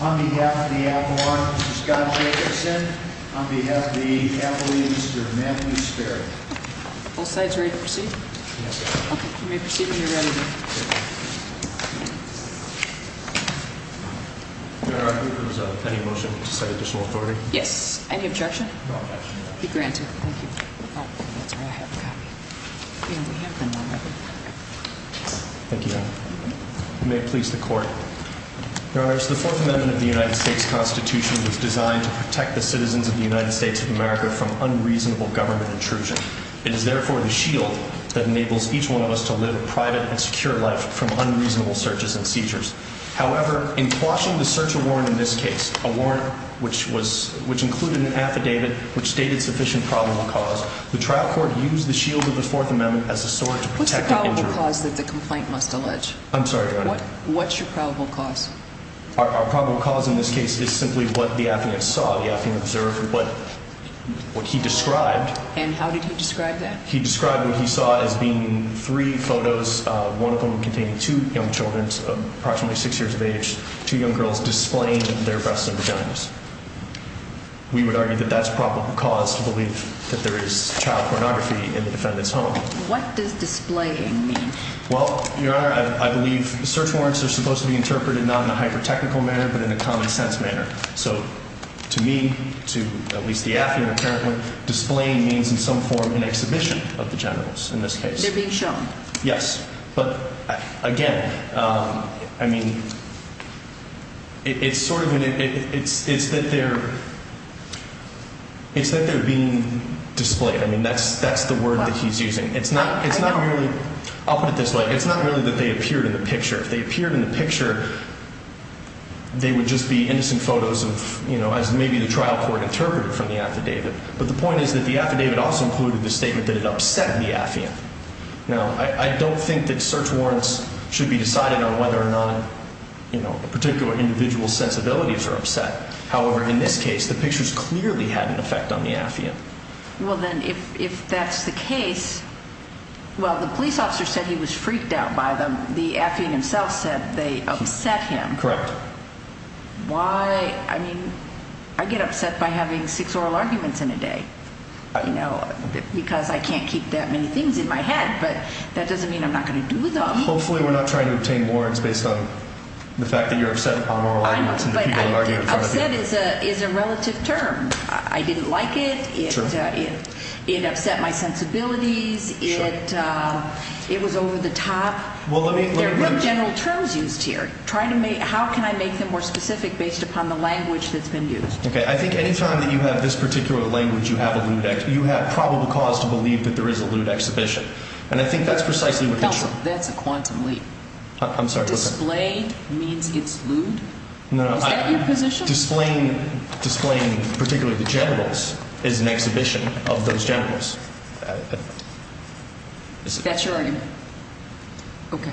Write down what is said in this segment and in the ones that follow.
On behalf of the Appalachian District, Matthew Sperry. Both sides ready to proceed? Yes, Your Honor. Okay, you may proceed when you're ready. Your Honor, I move there is any motion to set additional authority. Yes. Any objection? No objection. Be granted. Thank you. I have a copy. Thank you, Your Honor. You may please the court. Your Honor, the Fourth Amendment of the United States Constitution was designed to protect the citizens of the United States of America from unreasonable government intrusion. It is therefore the shield that enables each one of us to live a private and secure life from unreasonable searches and seizures. However, in quashing the search warrant in this case, a warrant which included an affidavit which stated sufficient probable cause, the trial court used the shield of the Fourth Amendment as a sword to protect the injured. What's the probable cause that the complaint must allege? I'm sorry, Your Honor. What's your probable cause? Our probable cause in this case is simply what the affidavit saw. The affidavit observed what he described. And how did he describe that? He described what he saw as being three photos, one of them containing two young children, approximately six years of age, two young girls displaying their breasts and vaginas. We would argue that that's probable cause to believe that there is child pornography in the defendant's home. What does displaying mean? Well, Your Honor, I believe search warrants are supposed to be interpreted not in a hyper-technical manner but in a common sense manner. So to me, to at least the affidavit apparently, displaying means in some form an exhibition of the generals in this case. They're being shown. Yes. But, again, I mean, it's sort of that they're being displayed. I mean, that's the word that he's using. I'll put it this way. It's not really that they appeared in the picture. If they appeared in the picture, they would just be innocent photos as maybe the trial court interpreted from the affidavit. But the point is that the affidavit also included the statement that it upset the affiant. Now, I don't think that search warrants should be decided on whether or not, you know, a particular individual's sensibilities are upset. However, in this case, the pictures clearly had an effect on the affiant. Well, then, if that's the case, well, the police officer said he was freaked out by them. The affiant himself said they upset him. Correct. Why? I mean, I get upset by having six oral arguments in a day, you know, because I can't keep that many things in my head. But that doesn't mean I'm not going to do them. Hopefully we're not trying to obtain warrants based on the fact that you're upset about oral arguments and the people who argue in front of you. I know, but upset is a relative term. I didn't like it. It upset my sensibilities. It was over the top. There are no general terms used here. How can I make them more specific based upon the language that's been used? Okay. I think any time that you have this particular language, you have a lewd act. You have probable cause to believe that there is a lewd exhibition. And I think that's precisely what they're trying to do. That's a quantum leap. I'm sorry. Displayed means it's lewd? No. Is that your position? Displaying particularly the generals is an exhibition of those generals. That's your argument? Okay.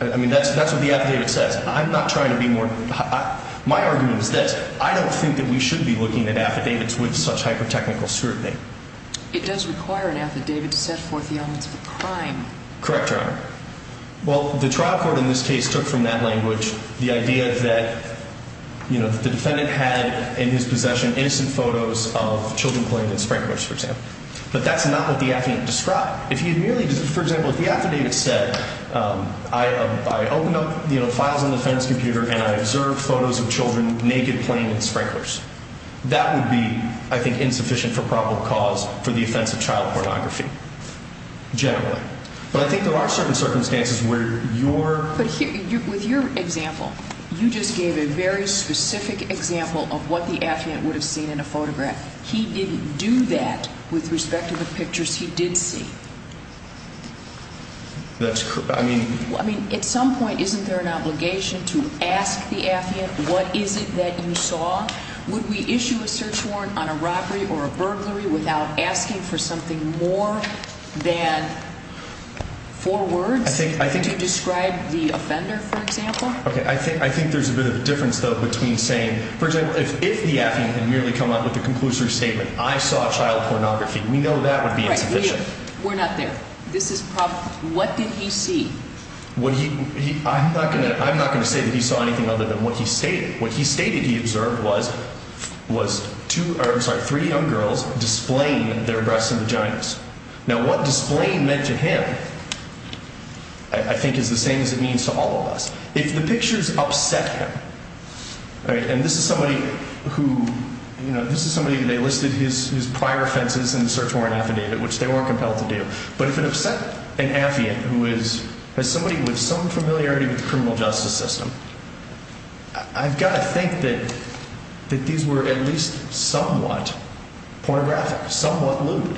I mean, that's what the affidavit says. I'm not trying to be more – my argument is this. I don't think that we should be looking at affidavits with such hyper-technical scrutiny. It does require an affidavit to set forth the elements of a crime. Correct, Your Honor. Well, the trial court in this case took from that language the idea that the defendant had in his possession innocent photos of children playing with sprinklers, for example. But that's not what the affidavit described. If he had merely – for example, if the affidavit said, I opened up files on the defendant's computer and I observed photos of children naked playing with sprinklers, that would be, I think, insufficient for probable cause for the offense of child pornography generally. But I think there are certain circumstances where your – But with your example, you just gave a very specific example of what the affidavit would have seen in a photograph. He didn't do that with respect to the pictures he did see. That's – I mean – I mean, at some point, isn't there an obligation to ask the affidavit what is it that you saw? Would we issue a search warrant on a robbery or a burglary without asking for something more than four words? I think – I think – To describe the offender, for example? Okay. I think there's a bit of a difference, though, between saying – for example, if the affidavit had merely come out with the conclusory statement, I saw child pornography, we know that would be insufficient. We're not there. This is probable. What did he see? What he – I'm not going to – I'm not going to say that he saw anything other than what he stated. What he stated, he observed, was two – or, I'm sorry, three young girls displaying their breasts and vaginas. Now, what displaying meant to him, I think, is the same as it means to all of us. If the pictures upset him – all right? And this is somebody who – you know, this is somebody who they listed his prior offenses in the search warrant affidavit, which they weren't compelled to do. But if it upset an affiant who is – has somebody with some familiarity with the criminal justice system, I've got to think that these were at least somewhat pornographic, somewhat lewd.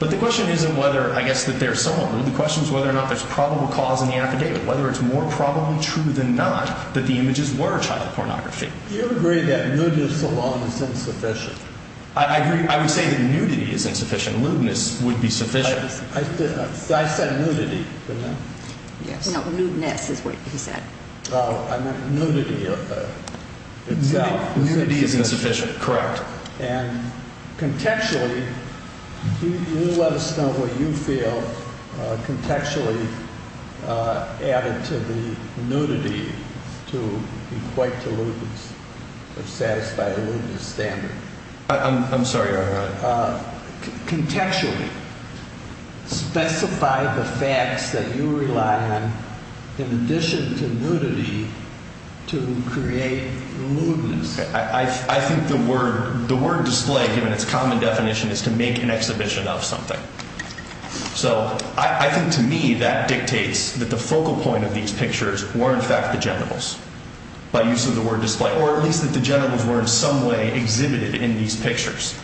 But the question isn't whether, I guess, that they're somewhat lewd. The question is whether or not there's probable cause in the affidavit, whether it's more probably true than not that the images were child pornography. Do you agree that nudity alone is insufficient? I agree – I would say that nudity is insufficient. Lewdness would be sufficient. I said nudity, didn't I? Yes. No, lewdness is what he said. Oh, I meant nudity itself. Nudity isn't sufficient. Correct. And contextually, you let us know what you feel contextually added to the nudity to equate to lewdness or satisfy a lewdness standard. I'm sorry. Contextually, specify the facts that you rely on in addition to nudity to create lewdness. I think the word display, given its common definition, is to make an exhibition of something. So I think to me that dictates that the focal point of these pictures were in fact the generals by use of the word display, or at least that the generals were in some way exhibited in these pictures.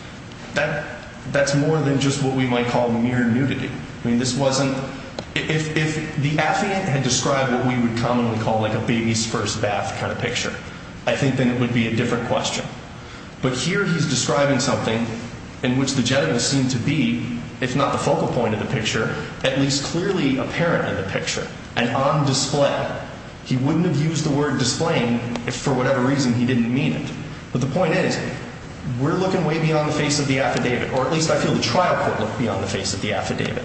That's more than just what we might call mere nudity. I mean, this wasn't – if the affiant had described what we would commonly call like a baby's first bath kind of picture, I think then it would be a different question. But here he's describing something in which the generals seem to be, if not the focal point of the picture, at least clearly apparent in the picture and on display. But he wouldn't have used the word display if for whatever reason he didn't mean it. But the point is we're looking way beyond the face of the affidavit, or at least I feel the trial court looked beyond the face of the affidavit.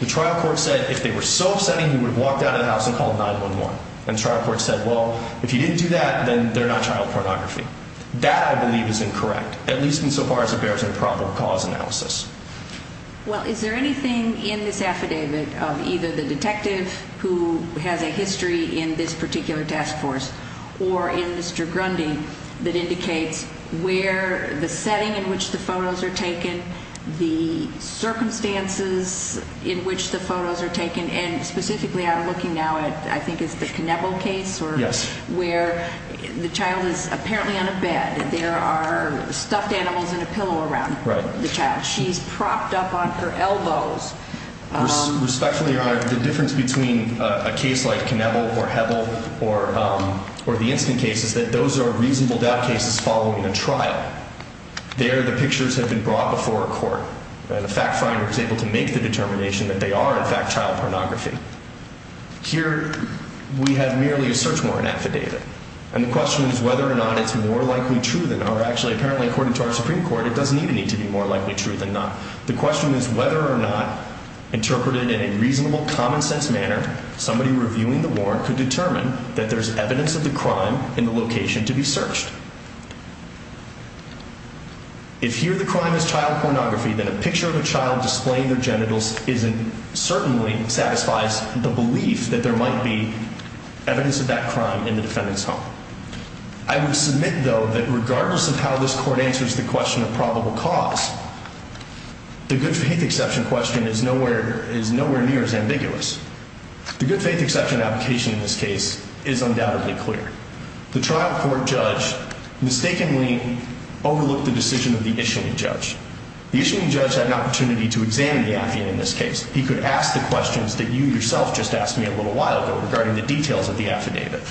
The trial court said if they were so upsetting, he would have walked out of the house and called 911. And the trial court said, well, if you didn't do that, then they're not child pornography. That, I believe, is incorrect, at least insofar as it bears a proper cause analysis. Well, is there anything in this affidavit of either the detective who has a history in this particular task force or in Mr. Grundy that indicates where the setting in which the photos are taken, the circumstances in which the photos are taken, and specifically I'm looking now at I think it's the Knebel case where the child is apparently on a bed. There are stuffed animals and a pillow around the child. She's propped up on her elbows. Respectfully, Your Honor, the difference between a case like Knebel or Hebel or the instant case is that those are reasonable doubt cases following a trial. There, the pictures have been brought before a court. The fact finder is able to make the determination that they are, in fact, child pornography. Here, we have merely a search warrant affidavit. And the question is whether or not it's more likely true than, or actually, apparently, according to our Supreme Court, it doesn't even need to be more likely true than not. The question is whether or not interpreted in a reasonable, common-sense manner, somebody reviewing the warrant could determine that there's evidence of the crime in the location to be searched. If here the crime is child pornography, then a picture of a child displaying their genitals certainly satisfies the belief that there might be evidence of that crime in the defendant's home. I would submit, though, that regardless of how this court answers the question of probable cause, the good-faith exception question is nowhere near as ambiguous. The good-faith exception application in this case is undoubtedly clear. The trial court judge mistakenly overlooked the decision of the issuing judge. The issuing judge had an opportunity to examine the affidavit in this case. He could ask the questions that you yourself just asked me a little while ago regarding the details of the affidavit.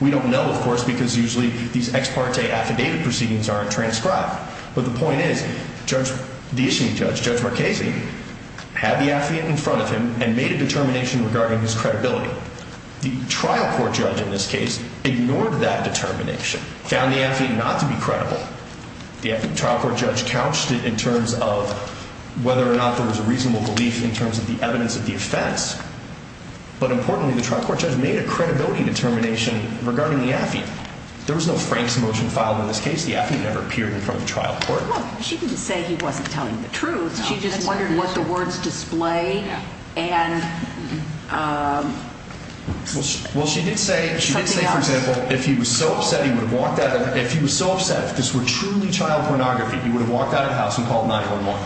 We don't know, of course, because usually these ex parte affidavit proceedings aren't transcribed. But the point is the issuing judge, Judge Marchese, had the affidavit in front of him and made a determination regarding his credibility. The trial court judge in this case ignored that determination, found the affidavit not to be credible. The trial court judge couched it in terms of whether or not there was a reasonable belief in terms of the evidence of the offense. But importantly, the trial court judge made a credibility determination regarding the affidavit. There was no Frank's motion filed in this case. The affidavit never appeared in front of the trial court. Well, she didn't say he wasn't telling the truth. She just wondered what the words display and something else. Well, she did say, for example, if he was so upset he would have walked out of the house. If he was so upset, if this were truly child pornography, he would have walked out of the house and called 911.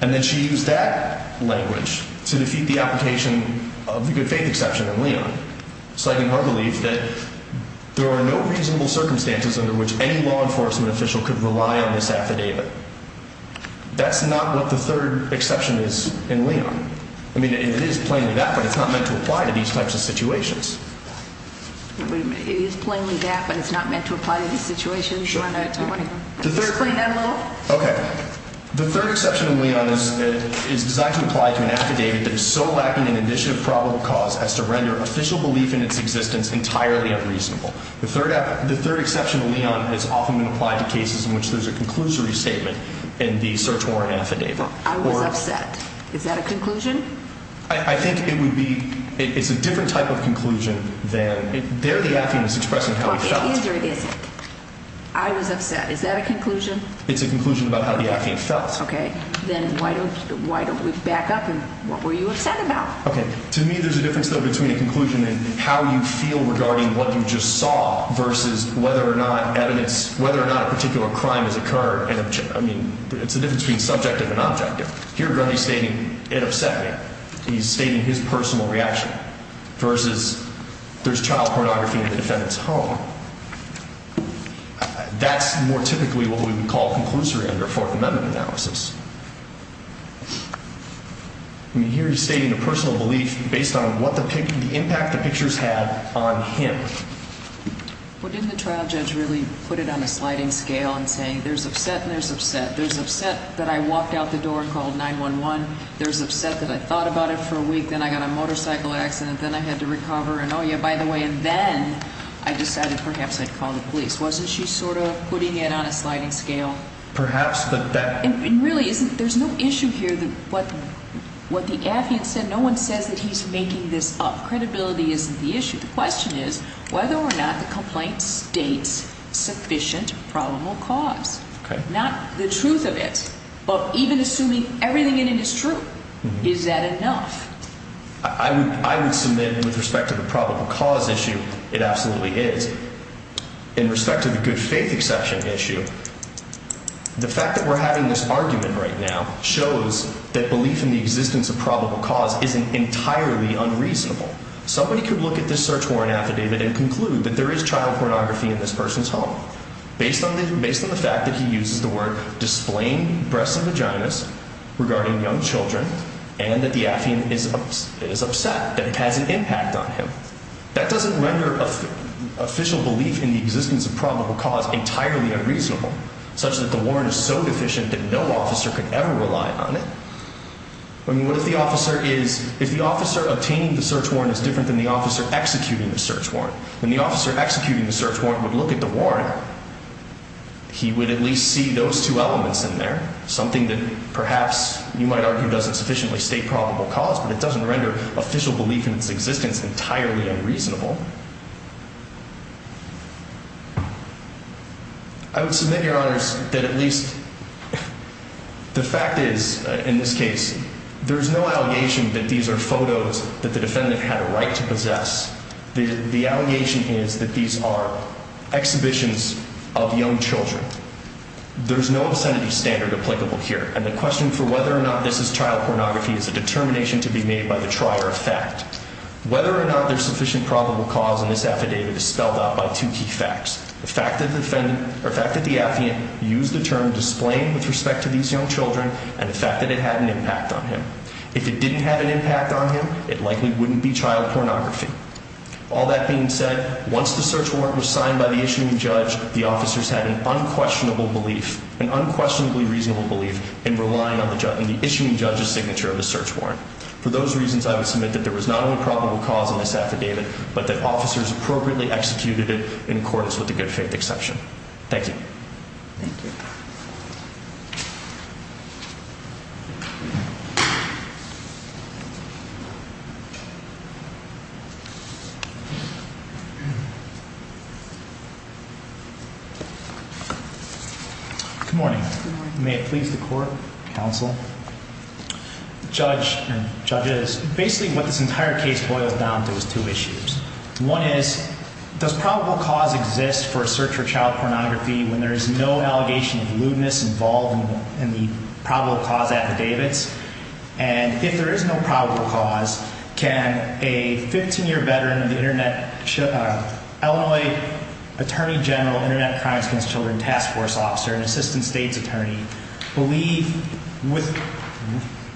And then she used that language to defeat the application of the good faith exception in Leon. It's like in her belief that there are no reasonable circumstances under which any law enforcement official could rely on this affidavit. That's not what the third exception is in Leon. I mean, it is plainly that, but it's not meant to apply to these types of situations. It is plainly that, but it's not meant to apply to these situations? Okay. The third exception in Leon is designed to apply to an affidavit that is so lacking in initiative probable cause as to render official belief in its existence entirely unreasonable. The third exception in Leon has often been applied to cases in which there's a conclusory statement in the search warrant affidavit. I was upset. Is that a conclusion? I think it would be – it's a different type of conclusion than – there the affidavit is expressing how it felt. It is or it isn't? I was upset. Is that a conclusion? It's a conclusion about how the affidavit felt. Okay. Then why don't we back up and what were you upset about? Okay. To me, there's a difference, though, between a conclusion and how you feel regarding what you just saw versus whether or not evidence – whether or not a particular crime has occurred. I mean, it's the difference between subjective and objective. Here, Grundy's stating it upset me. He's stating his personal reaction versus there's child pornography in the defendant's home. That's more typically what we would call conclusory under a Fourth Amendment analysis. I mean, here he's stating a personal belief based on what the – the impact the pictures had on him. Well, didn't the trial judge really put it on a sliding scale in saying there's upset and there's upset, there's upset that I walked out the door and called 911, there's upset that I thought about it for a week, then I got a motorcycle accident, then I had to recover, and oh, yeah, by the way, and then I decided perhaps I'd call the police. Wasn't she sort of putting it on a sliding scale? Perhaps, but that – And really, isn't – there's no issue here that what the affidavit said, no one says that he's making this up. Credibility isn't the issue. The question is whether or not the complaint states sufficient probable cause. Not the truth of it, but even assuming everything in it is true, is that enough? I would submit with respect to the probable cause issue, it absolutely is. In respect to the good faith exception issue, the fact that we're having this argument right now shows that belief in the existence of probable cause isn't entirely unreasonable. Somebody could look at this search warrant affidavit and conclude that there is child pornography in this person's home, based on the fact that he uses the word displaying breasts and vaginas regarding young children and that the affiant is upset, that it has an impact on him. That doesn't render official belief in the existence of probable cause entirely unreasonable, such that the warrant is so deficient that no officer could ever rely on it. I mean, what if the officer is – if the officer obtaining the search warrant is different than the officer executing the search warrant? When the officer executing the search warrant would look at the warrant, he would at least see those two elements in there, something that perhaps you might argue doesn't sufficiently state probable cause, but it doesn't render official belief in its existence entirely unreasonable. I would submit, Your Honors, that at least the fact is, in this case, there is no allegation that these are photos that the defendant had a right to possess. The allegation is that these are exhibitions of young children. There is no obscenity standard applicable here, and the question for whether or not this is child pornography is a determination to be made by the trier of fact. Whether or not there is sufficient probable cause in this affidavit is spelled out by two key facts. The fact that the affiant used the term displaying with respect to these young children and the fact that it had an impact on him. If it didn't have an impact on him, it likely wouldn't be child pornography. All that being said, once the search warrant was signed by the issuing judge, the officers had an unquestionably reasonable belief in relying on the issuing judge's signature of the search warrant. For those reasons, I would submit that there was not only probable cause in this affidavit, but that officers appropriately executed it in accordance with the good faith exception. Thank you. Good morning. May it please the court, counsel, judge and judges. Basically what this entire case boils down to is two issues. One is, does probable cause exist for a search for child pornography when there is no allegation of lewdness involved in the probable cause affidavits? And if there is no probable cause, can a 15-year veteran of the Internet, Illinois Attorney General, Internet Crimes Against Children Task Force Officer, and Assistant State's Attorney,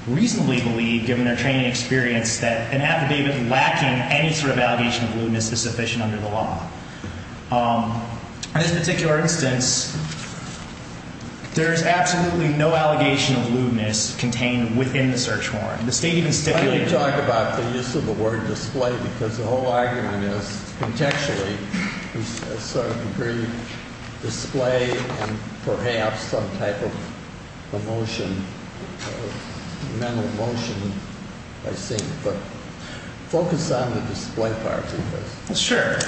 reasonably believe, given their training and experience, that an affidavit lacking any sort of allegation of lewdness is sufficient under the law? In this particular instance, there is absolutely no allegation of lewdness contained within the search warrant. You talk about the use of the word display because the whole argument is contextually, to a certain degree, display and perhaps some type of emotion, mental emotion, I think. But focus on the display part of this. Sure.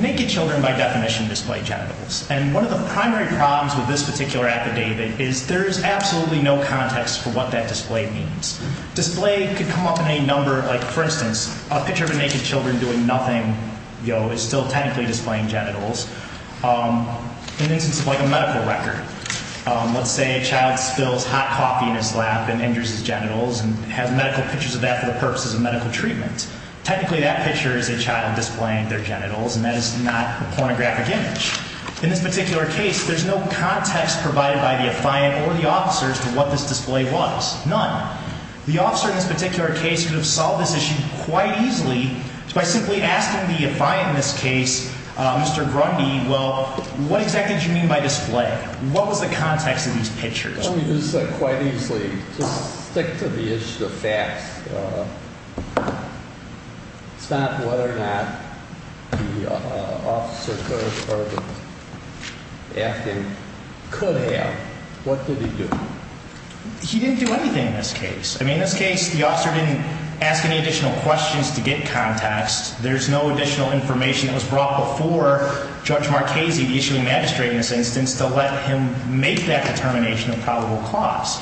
Naked children by definition display genitals. And one of the primary problems with this particular affidavit is there is absolutely no context for what that display means. Display could come up in any number. Like, for instance, a picture of a naked children doing nothing, you know, is still technically displaying genitals. In the instance of, like, a medical record. Let's say a child spills hot coffee in his lap and injures his genitals and has medical pictures of that for the purposes of medical treatment. Technically, that picture is a child displaying their genitals, and that is not a pornographic image. In this particular case, there's no context provided by the affiant or the officers to what this display was. None. The officer in this particular case could have solved this issue quite easily by simply asking the affiant in this case, Mr. Grundy, well, what exactly did you mean by display? What was the context of these pictures? I don't mean to say quite easily. Just stick to the issue of facts. It's not whether or not the officer could have or the affiant could have. What did he do? He didn't do anything in this case. I mean, in this case, the officer didn't ask any additional questions to get context. There's no additional information that was brought before Judge Marchese, the issuing magistrate in this instance, to let him make that determination of probable cause.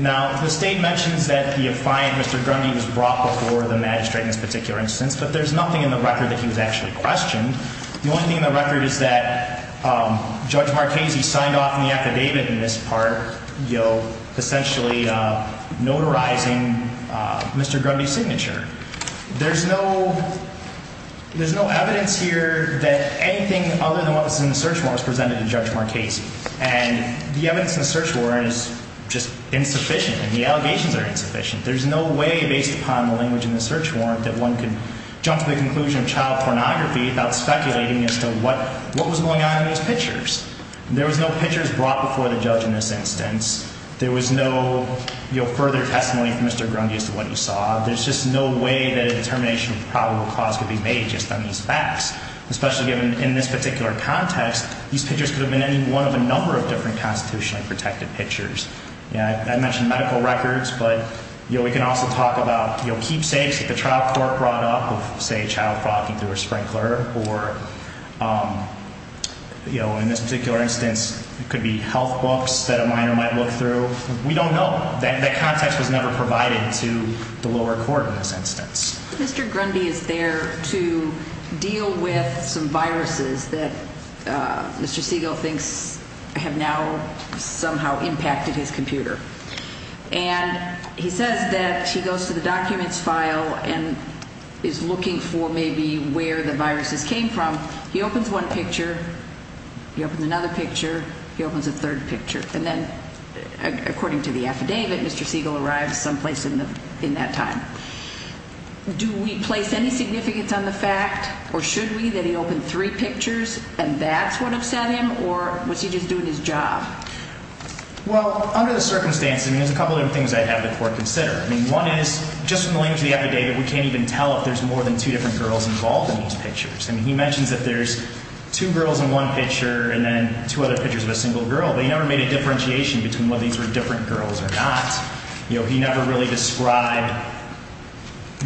Now, the state mentions that the affiant, Mr. Grundy, was brought before the magistrate in this particular instance, but there's nothing in the record that he was actually questioned. The only thing in the record is that Judge Marchese signed off on the affidavit in this part, you know, essentially notarizing Mr. Grundy's signature. There's no evidence here that anything other than what was in the search warrant was presented to Judge Marchese. And the evidence in the search warrant is just insufficient and the allegations are insufficient. There's no way based upon the language in the search warrant that one could jump to the conclusion of child pornography without speculating as to what was going on in those pictures. There was no pictures brought before the judge in this instance. There was no, you know, further testimony from Mr. Grundy as to what he saw. There's just no way that a determination of probable cause could be made just on these facts, especially given in this particular context, these pictures could have been any one of a number of different constitutionally protected pictures. I mentioned medical records, but, you know, we can also talk about, you know, keepsakes that the child court brought up of, say, child frothing through a sprinkler. Or, you know, in this particular instance, it could be health books that a minor might look through. We don't know. That context was never provided to the lower court in this instance. Mr. Grundy is there to deal with some viruses that Mr. Siegel thinks have now somehow impacted his computer. And he says that he goes to the documents file and is looking for maybe where the viruses came from. He opens one picture, he opens another picture, he opens a third picture. And then, according to the affidavit, Mr. Siegel arrives someplace in that time. Do we place any significance on the fact, or should we, that he opened three pictures and that's what upset him, or was he just doing his job? Well, under the circumstances, I mean, there's a couple of things I'd have the court consider. I mean, one is, just from the language of the affidavit, we can't even tell if there's more than two different girls involved in these pictures. I mean, he mentions that there's two girls in one picture and then two other pictures of a single girl. But he never made a differentiation between whether these were different girls or not. You know, he never really described,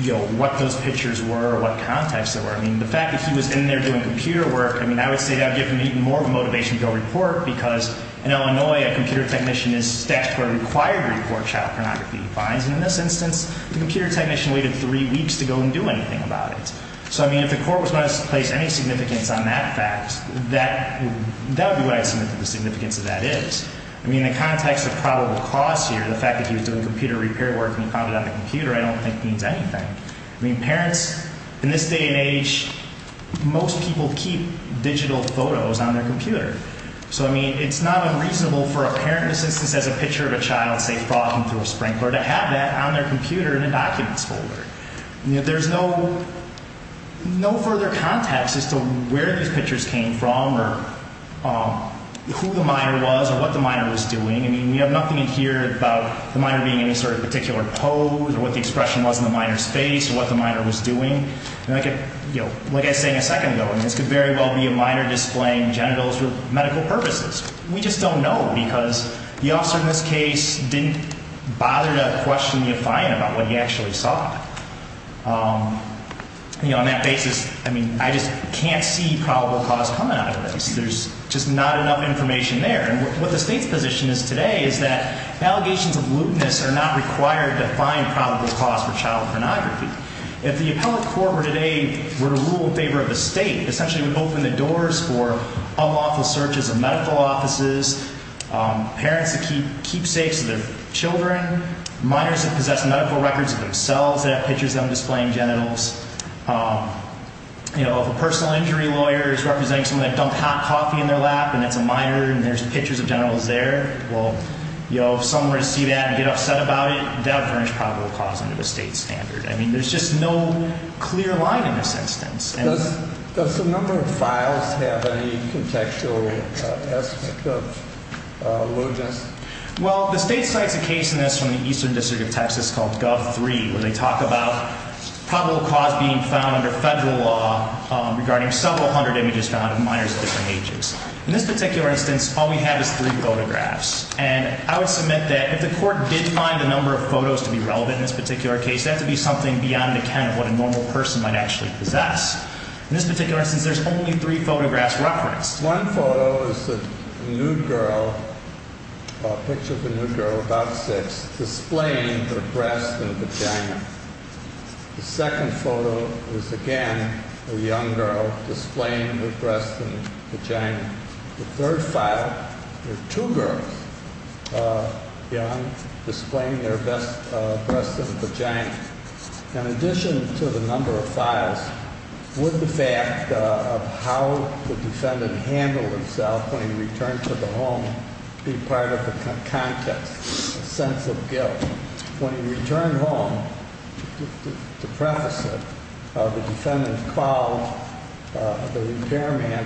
you know, what those pictures were or what context they were. I mean, the fact that he was in there doing computer work, I mean, I would say that would give him even more of a motivation to go report, because in Illinois, a computer technician is staffed for a required report of child pornography fines. And in this instance, the computer technician waited three weeks to go and do anything about it. So, I mean, if the court was going to place any significance on that fact, that would be what I'd say the significance of that is. I mean, in the context of probable cause here, the fact that he was doing computer repair work and he found it on the computer, I don't think means anything. I mean, parents in this day and age, most people keep digital photos on their computer. So, I mean, it's not unreasonable for a parent, in this instance, as a picture of a child, say, No further context as to where these pictures came from or who the minor was or what the minor was doing. I mean, we have nothing in here about the minor being in any sort of particular pose or what the expression was on the minor's face or what the minor was doing. And I could, you know, like I was saying a second ago, I mean, this could very well be a minor displaying genitals for medical purposes. We just don't know, because the officer in this case didn't bother to question the client about what he actually saw. You know, on that basis, I mean, I just can't see probable cause coming out of this. There's just not enough information there. And what the state's position is today is that allegations of lewdness are not required to find probable cause for child pornography. If the appellate court were today, were to rule in favor of the state, essentially would open the doors for unlawful searches of medical offices, parents that keep keepsakes of their children, minors that possess medical records of themselves that have pictures of them displaying genitals. You know, if a personal injury lawyer is representing someone that dumped hot coffee in their lap and it's a minor and there's pictures of genitals there, well, you know, if someone were to see that and get upset about it, that would bring probable cause into the state standard. I mean, there's just no clear line in this instance. Does the number of files have any contextual aspect of lewdness? Well, the state cites a case in this from the Eastern District of Texas called Gov. 3, where they talk about probable cause being found under federal law regarding several hundred images found of minors of different ages. In this particular instance, all we have is three photographs. And I would submit that if the court did find the number of photos to be relevant in this particular case, that would be something beyond the kind of what a normal person might actually possess. In this particular instance, there's only three photographs referenced. One photo is a nude girl, a picture of a nude girl about six, displaying her breast and vagina. The second photo is, again, a young girl displaying her breast and vagina. The third file, there are two girls, young, displaying their breast and vagina. In addition to the number of files, would the fact of how the defendant handled himself when he returned to the home be part of the context, a sense of guilt? When he returned home, to preface it, the defendant called the repairman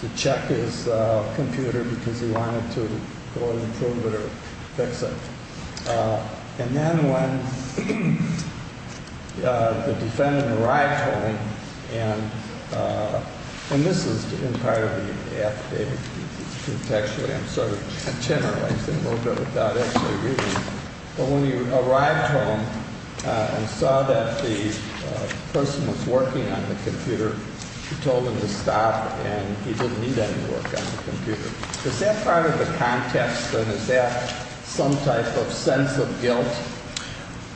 to check his computer because he wanted to go and improve it or fix it. And then when the defendant arrived home, and this is in part of the affidavit. Actually, I'm sort of generalizing a little bit without actually reading it. But when he arrived home and saw that the person was working on the computer, he told him to stop and he didn't need any work on the computer. Is that part of the context or is that some type of sense of guilt?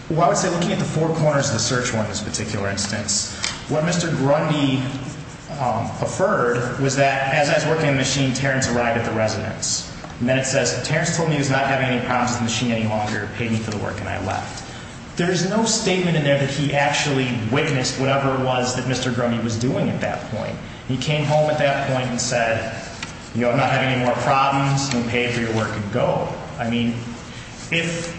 Well, I would say looking at the four corners of the search warrant in this particular instance, what Mr. Grundy preferred was that as I was working on the machine, Terrence arrived at the residence. And then it says, Terrence told me he was not having any problems with the machine any longer. He paid me for the work and I left. There is no statement in there that he actually witnessed whatever it was that Mr. Grundy was doing at that point. He came home at that point and said, you know, I'm not having any more problems. I'm going to pay for your work and go. I mean, if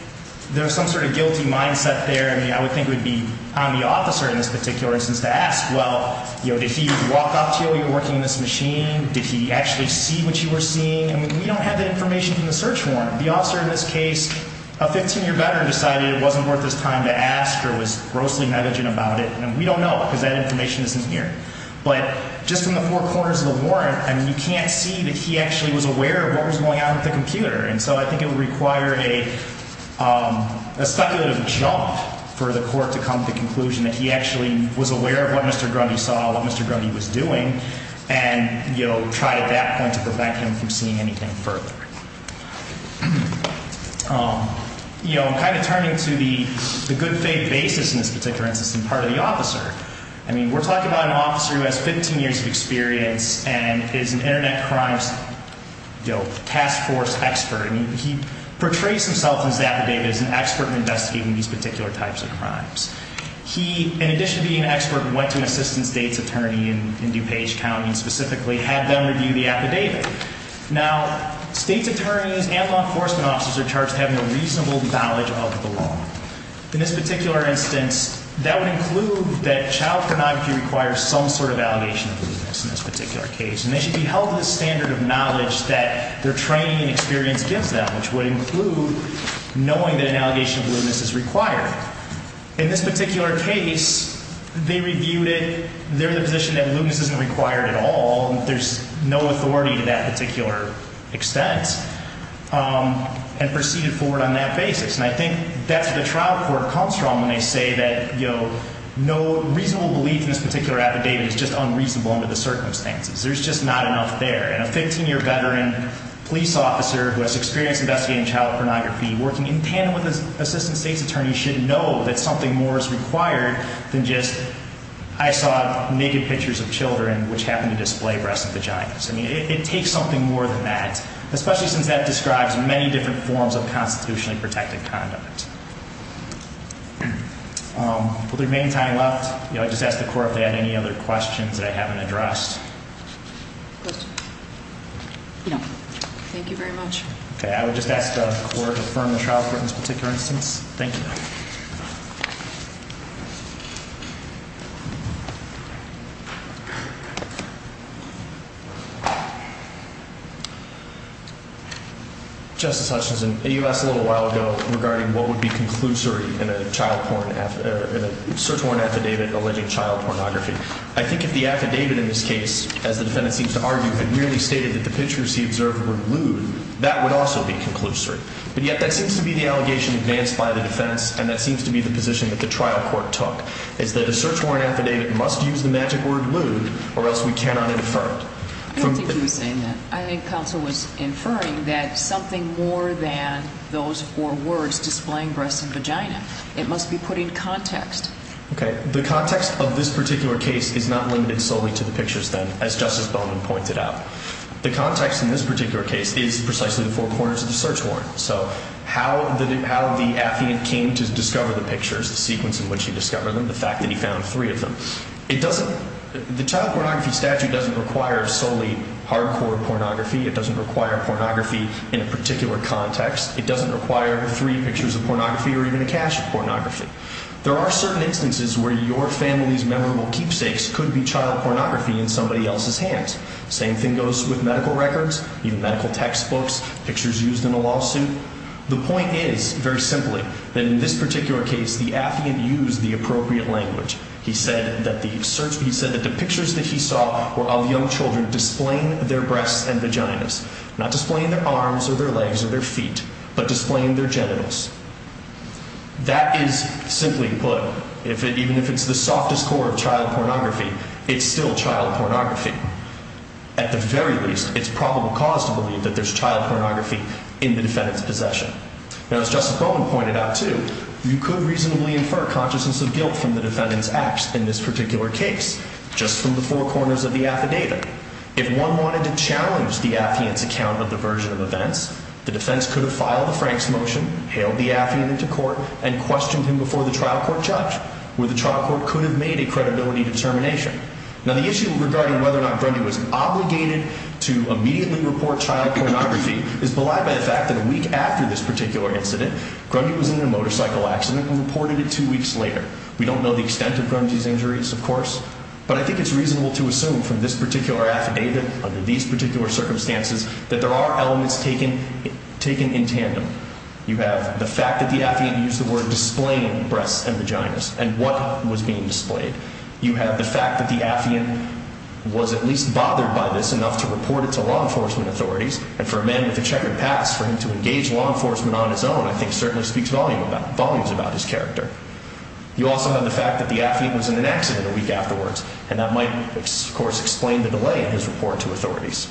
there's some sort of guilty mindset there, I mean, I would think it would be on the officer in this particular instance to ask, well, you know, did he walk up to you while you were working on this machine? Did he actually see what you were seeing? I mean, we don't have that information from the search warrant. The officer in this case, a 15-year veteran, decided it wasn't worth his time to ask or was grossly negligent about it. And we don't know because that information isn't here. But just from the four corners of the warrant, I mean, you can't see that he actually was aware of what was going on with the computer. And so I think it would require a speculative jump for the court to come to the conclusion that he actually was aware of what Mr. Grundy saw, what Mr. Grundy was doing, and, you know, try at that point to prevent him from seeing anything further. You know, I'm kind of turning to the good faith basis in this particular instance and part of the officer. I mean, we're talking about an officer who has 15 years of experience and is an Internet Crimes Task Force expert. I mean, he portrays himself in his affidavit as an expert in investigating these particular types of crimes. He, in addition to being an expert, went to an assistant state's attorney in DuPage County and specifically had them review the affidavit. Now, state's attorneys and law enforcement officers are charged with having a reasonable knowledge of the law. In this particular instance, that would include that child pornography requires some sort of allegation of lewdness in this particular case. And they should be held to the standard of knowledge that their training and experience gives them, which would include knowing that an allegation of lewdness is required. In this particular case, they reviewed it. They're in the position that lewdness isn't required at all and there's no authority to that particular extent and proceeded forward on that basis. And I think that's where the trial court comes from when they say that, you know, no reasonable belief in this particular affidavit is just unreasonable under the circumstances. There's just not enough there. And a 15-year veteran police officer who has experience investigating child pornography, working in tandem with an assistant state's attorney, should know that something more is required than just, I saw naked pictures of children which happened to display breast and vaginas. I mean, it takes something more than that, especially since that describes many different forms of constitutionally protected condiment. With our main time left, I'd just ask the court if they have any other questions that I haven't addressed. Questions? No. Thank you very much. Okay. I would just ask the court to affirm the trial court in this particular instance. Thank you. Justice Hutchinson, you asked a little while ago regarding what would be conclusory in a search warrant affidavit alleging child pornography. I think if the affidavit in this case, as the defendant seems to argue, had merely stated that the pictures he observed were lewd, that would also be conclusory. But yet that seems to be the allegation advanced by the defense and that seems to be the position that the trial court took. It's that a search warrant affidavit must use the magic word lewd or else we cannot infer it. I don't think he was saying that. I think counsel was inferring that something more than those four words displaying breast and vagina. It must be put in context. Okay. The context of this particular case is not limited solely to the pictures then, as Justice Bowman pointed out. The context in this particular case is precisely the four corners of the search warrant. So how the affidavit came to discover the pictures, the sequence in which he discovered them, the fact that he found three of them. The child pornography statute doesn't require solely hardcore pornography. It doesn't require pornography in a particular context. It doesn't require three pictures of pornography or even a cache of pornography. There are certain instances where your family's memorable keepsakes could be child pornography in somebody else's hands. Same thing goes with medical records, even medical textbooks, pictures used in a lawsuit. The point is, very simply, that in this particular case the affidavit used the appropriate language. He said that the pictures that he saw were of young children displaying their breasts and vaginas, not displaying their arms or their legs or their feet, but displaying their genitals. That is, simply put, even if it's the softest core of child pornography, it's still child pornography. At the very least, it's probable cause to believe that there's child pornography in the defendant's possession. Now, as Justice Bowman pointed out, too, you could reasonably infer consciousness of guilt from the defendant's acts in this particular case, just from the four corners of the affidavit. If one wanted to challenge the affiant's account of the version of events, the defense could have filed a Franks motion, hailed the affiant into court, and questioned him before the trial court judge, where the trial court could have made a credibility determination. Now, the issue regarding whether or not Grundy was obligated to immediately report child pornography is belied by the fact that a week after this particular incident, Grundy was in a motorcycle accident and reported it two weeks later. We don't know the extent of Grundy's injuries, of course, but I think it's reasonable to assume from this particular affidavit, under these particular circumstances, that there are elements taken in tandem. You have the fact that the affiant used the word displaying breasts and vaginas, and what was being displayed. You have the fact that the affiant was at least bothered by this enough to report it to law enforcement authorities, and for a man with a checkered past, for him to engage law enforcement on his own, I think, certainly speaks volumes about his character. You also have the fact that the affiant was in an accident a week afterwards, and that might, of course, explain the delay in his report to authorities.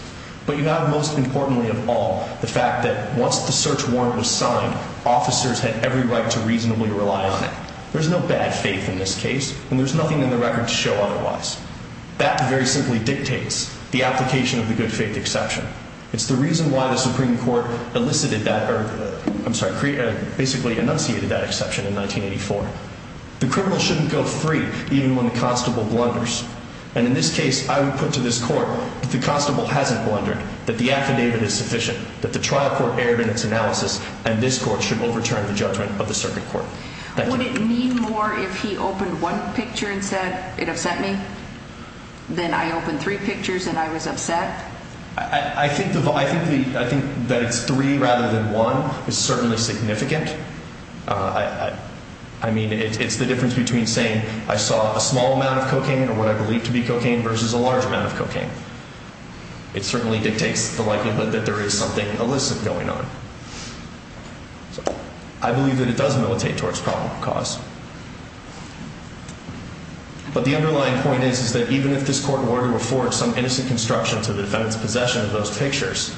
But you have, most importantly of all, the fact that once the search warrant was signed, officers had every right to reasonably rely on it. There's no bad faith in this case, and there's nothing in the record to show otherwise. That very simply dictates the application of the good faith exception. It's the reason why the Supreme Court basically enunciated that exception in 1984. The criminal shouldn't go free even when the constable blunders. And in this case, I would put to this court that the constable hasn't blundered, that the affidavit is sufficient, that the trial court erred in its analysis, and this court should overturn the judgment of the circuit court. Would it mean more if he opened one picture and said, it upset me? Then I opened three pictures and I was upset? I think that it's three rather than one is certainly significant. I mean, it's the difference between saying I saw a small amount of cocaine or what I believe to be cocaine versus a large amount of cocaine. It certainly dictates the likelihood that there is something illicit going on. I believe that it does militate towards probable cause. But the underlying point is that even if this court were to afford some innocent construction to the defendant's possession of those pictures,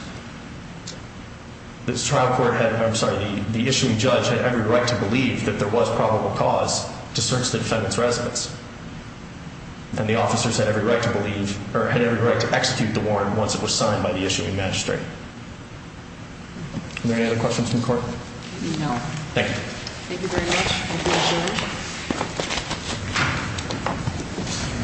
the issuing judge had every right to believe that there was probable cause to search the defendant's residence. And the officers had every right to execute the warrant once it was signed by the issuing magistrate. Are there any other questions from the court? No. Thank you. Thank you very much.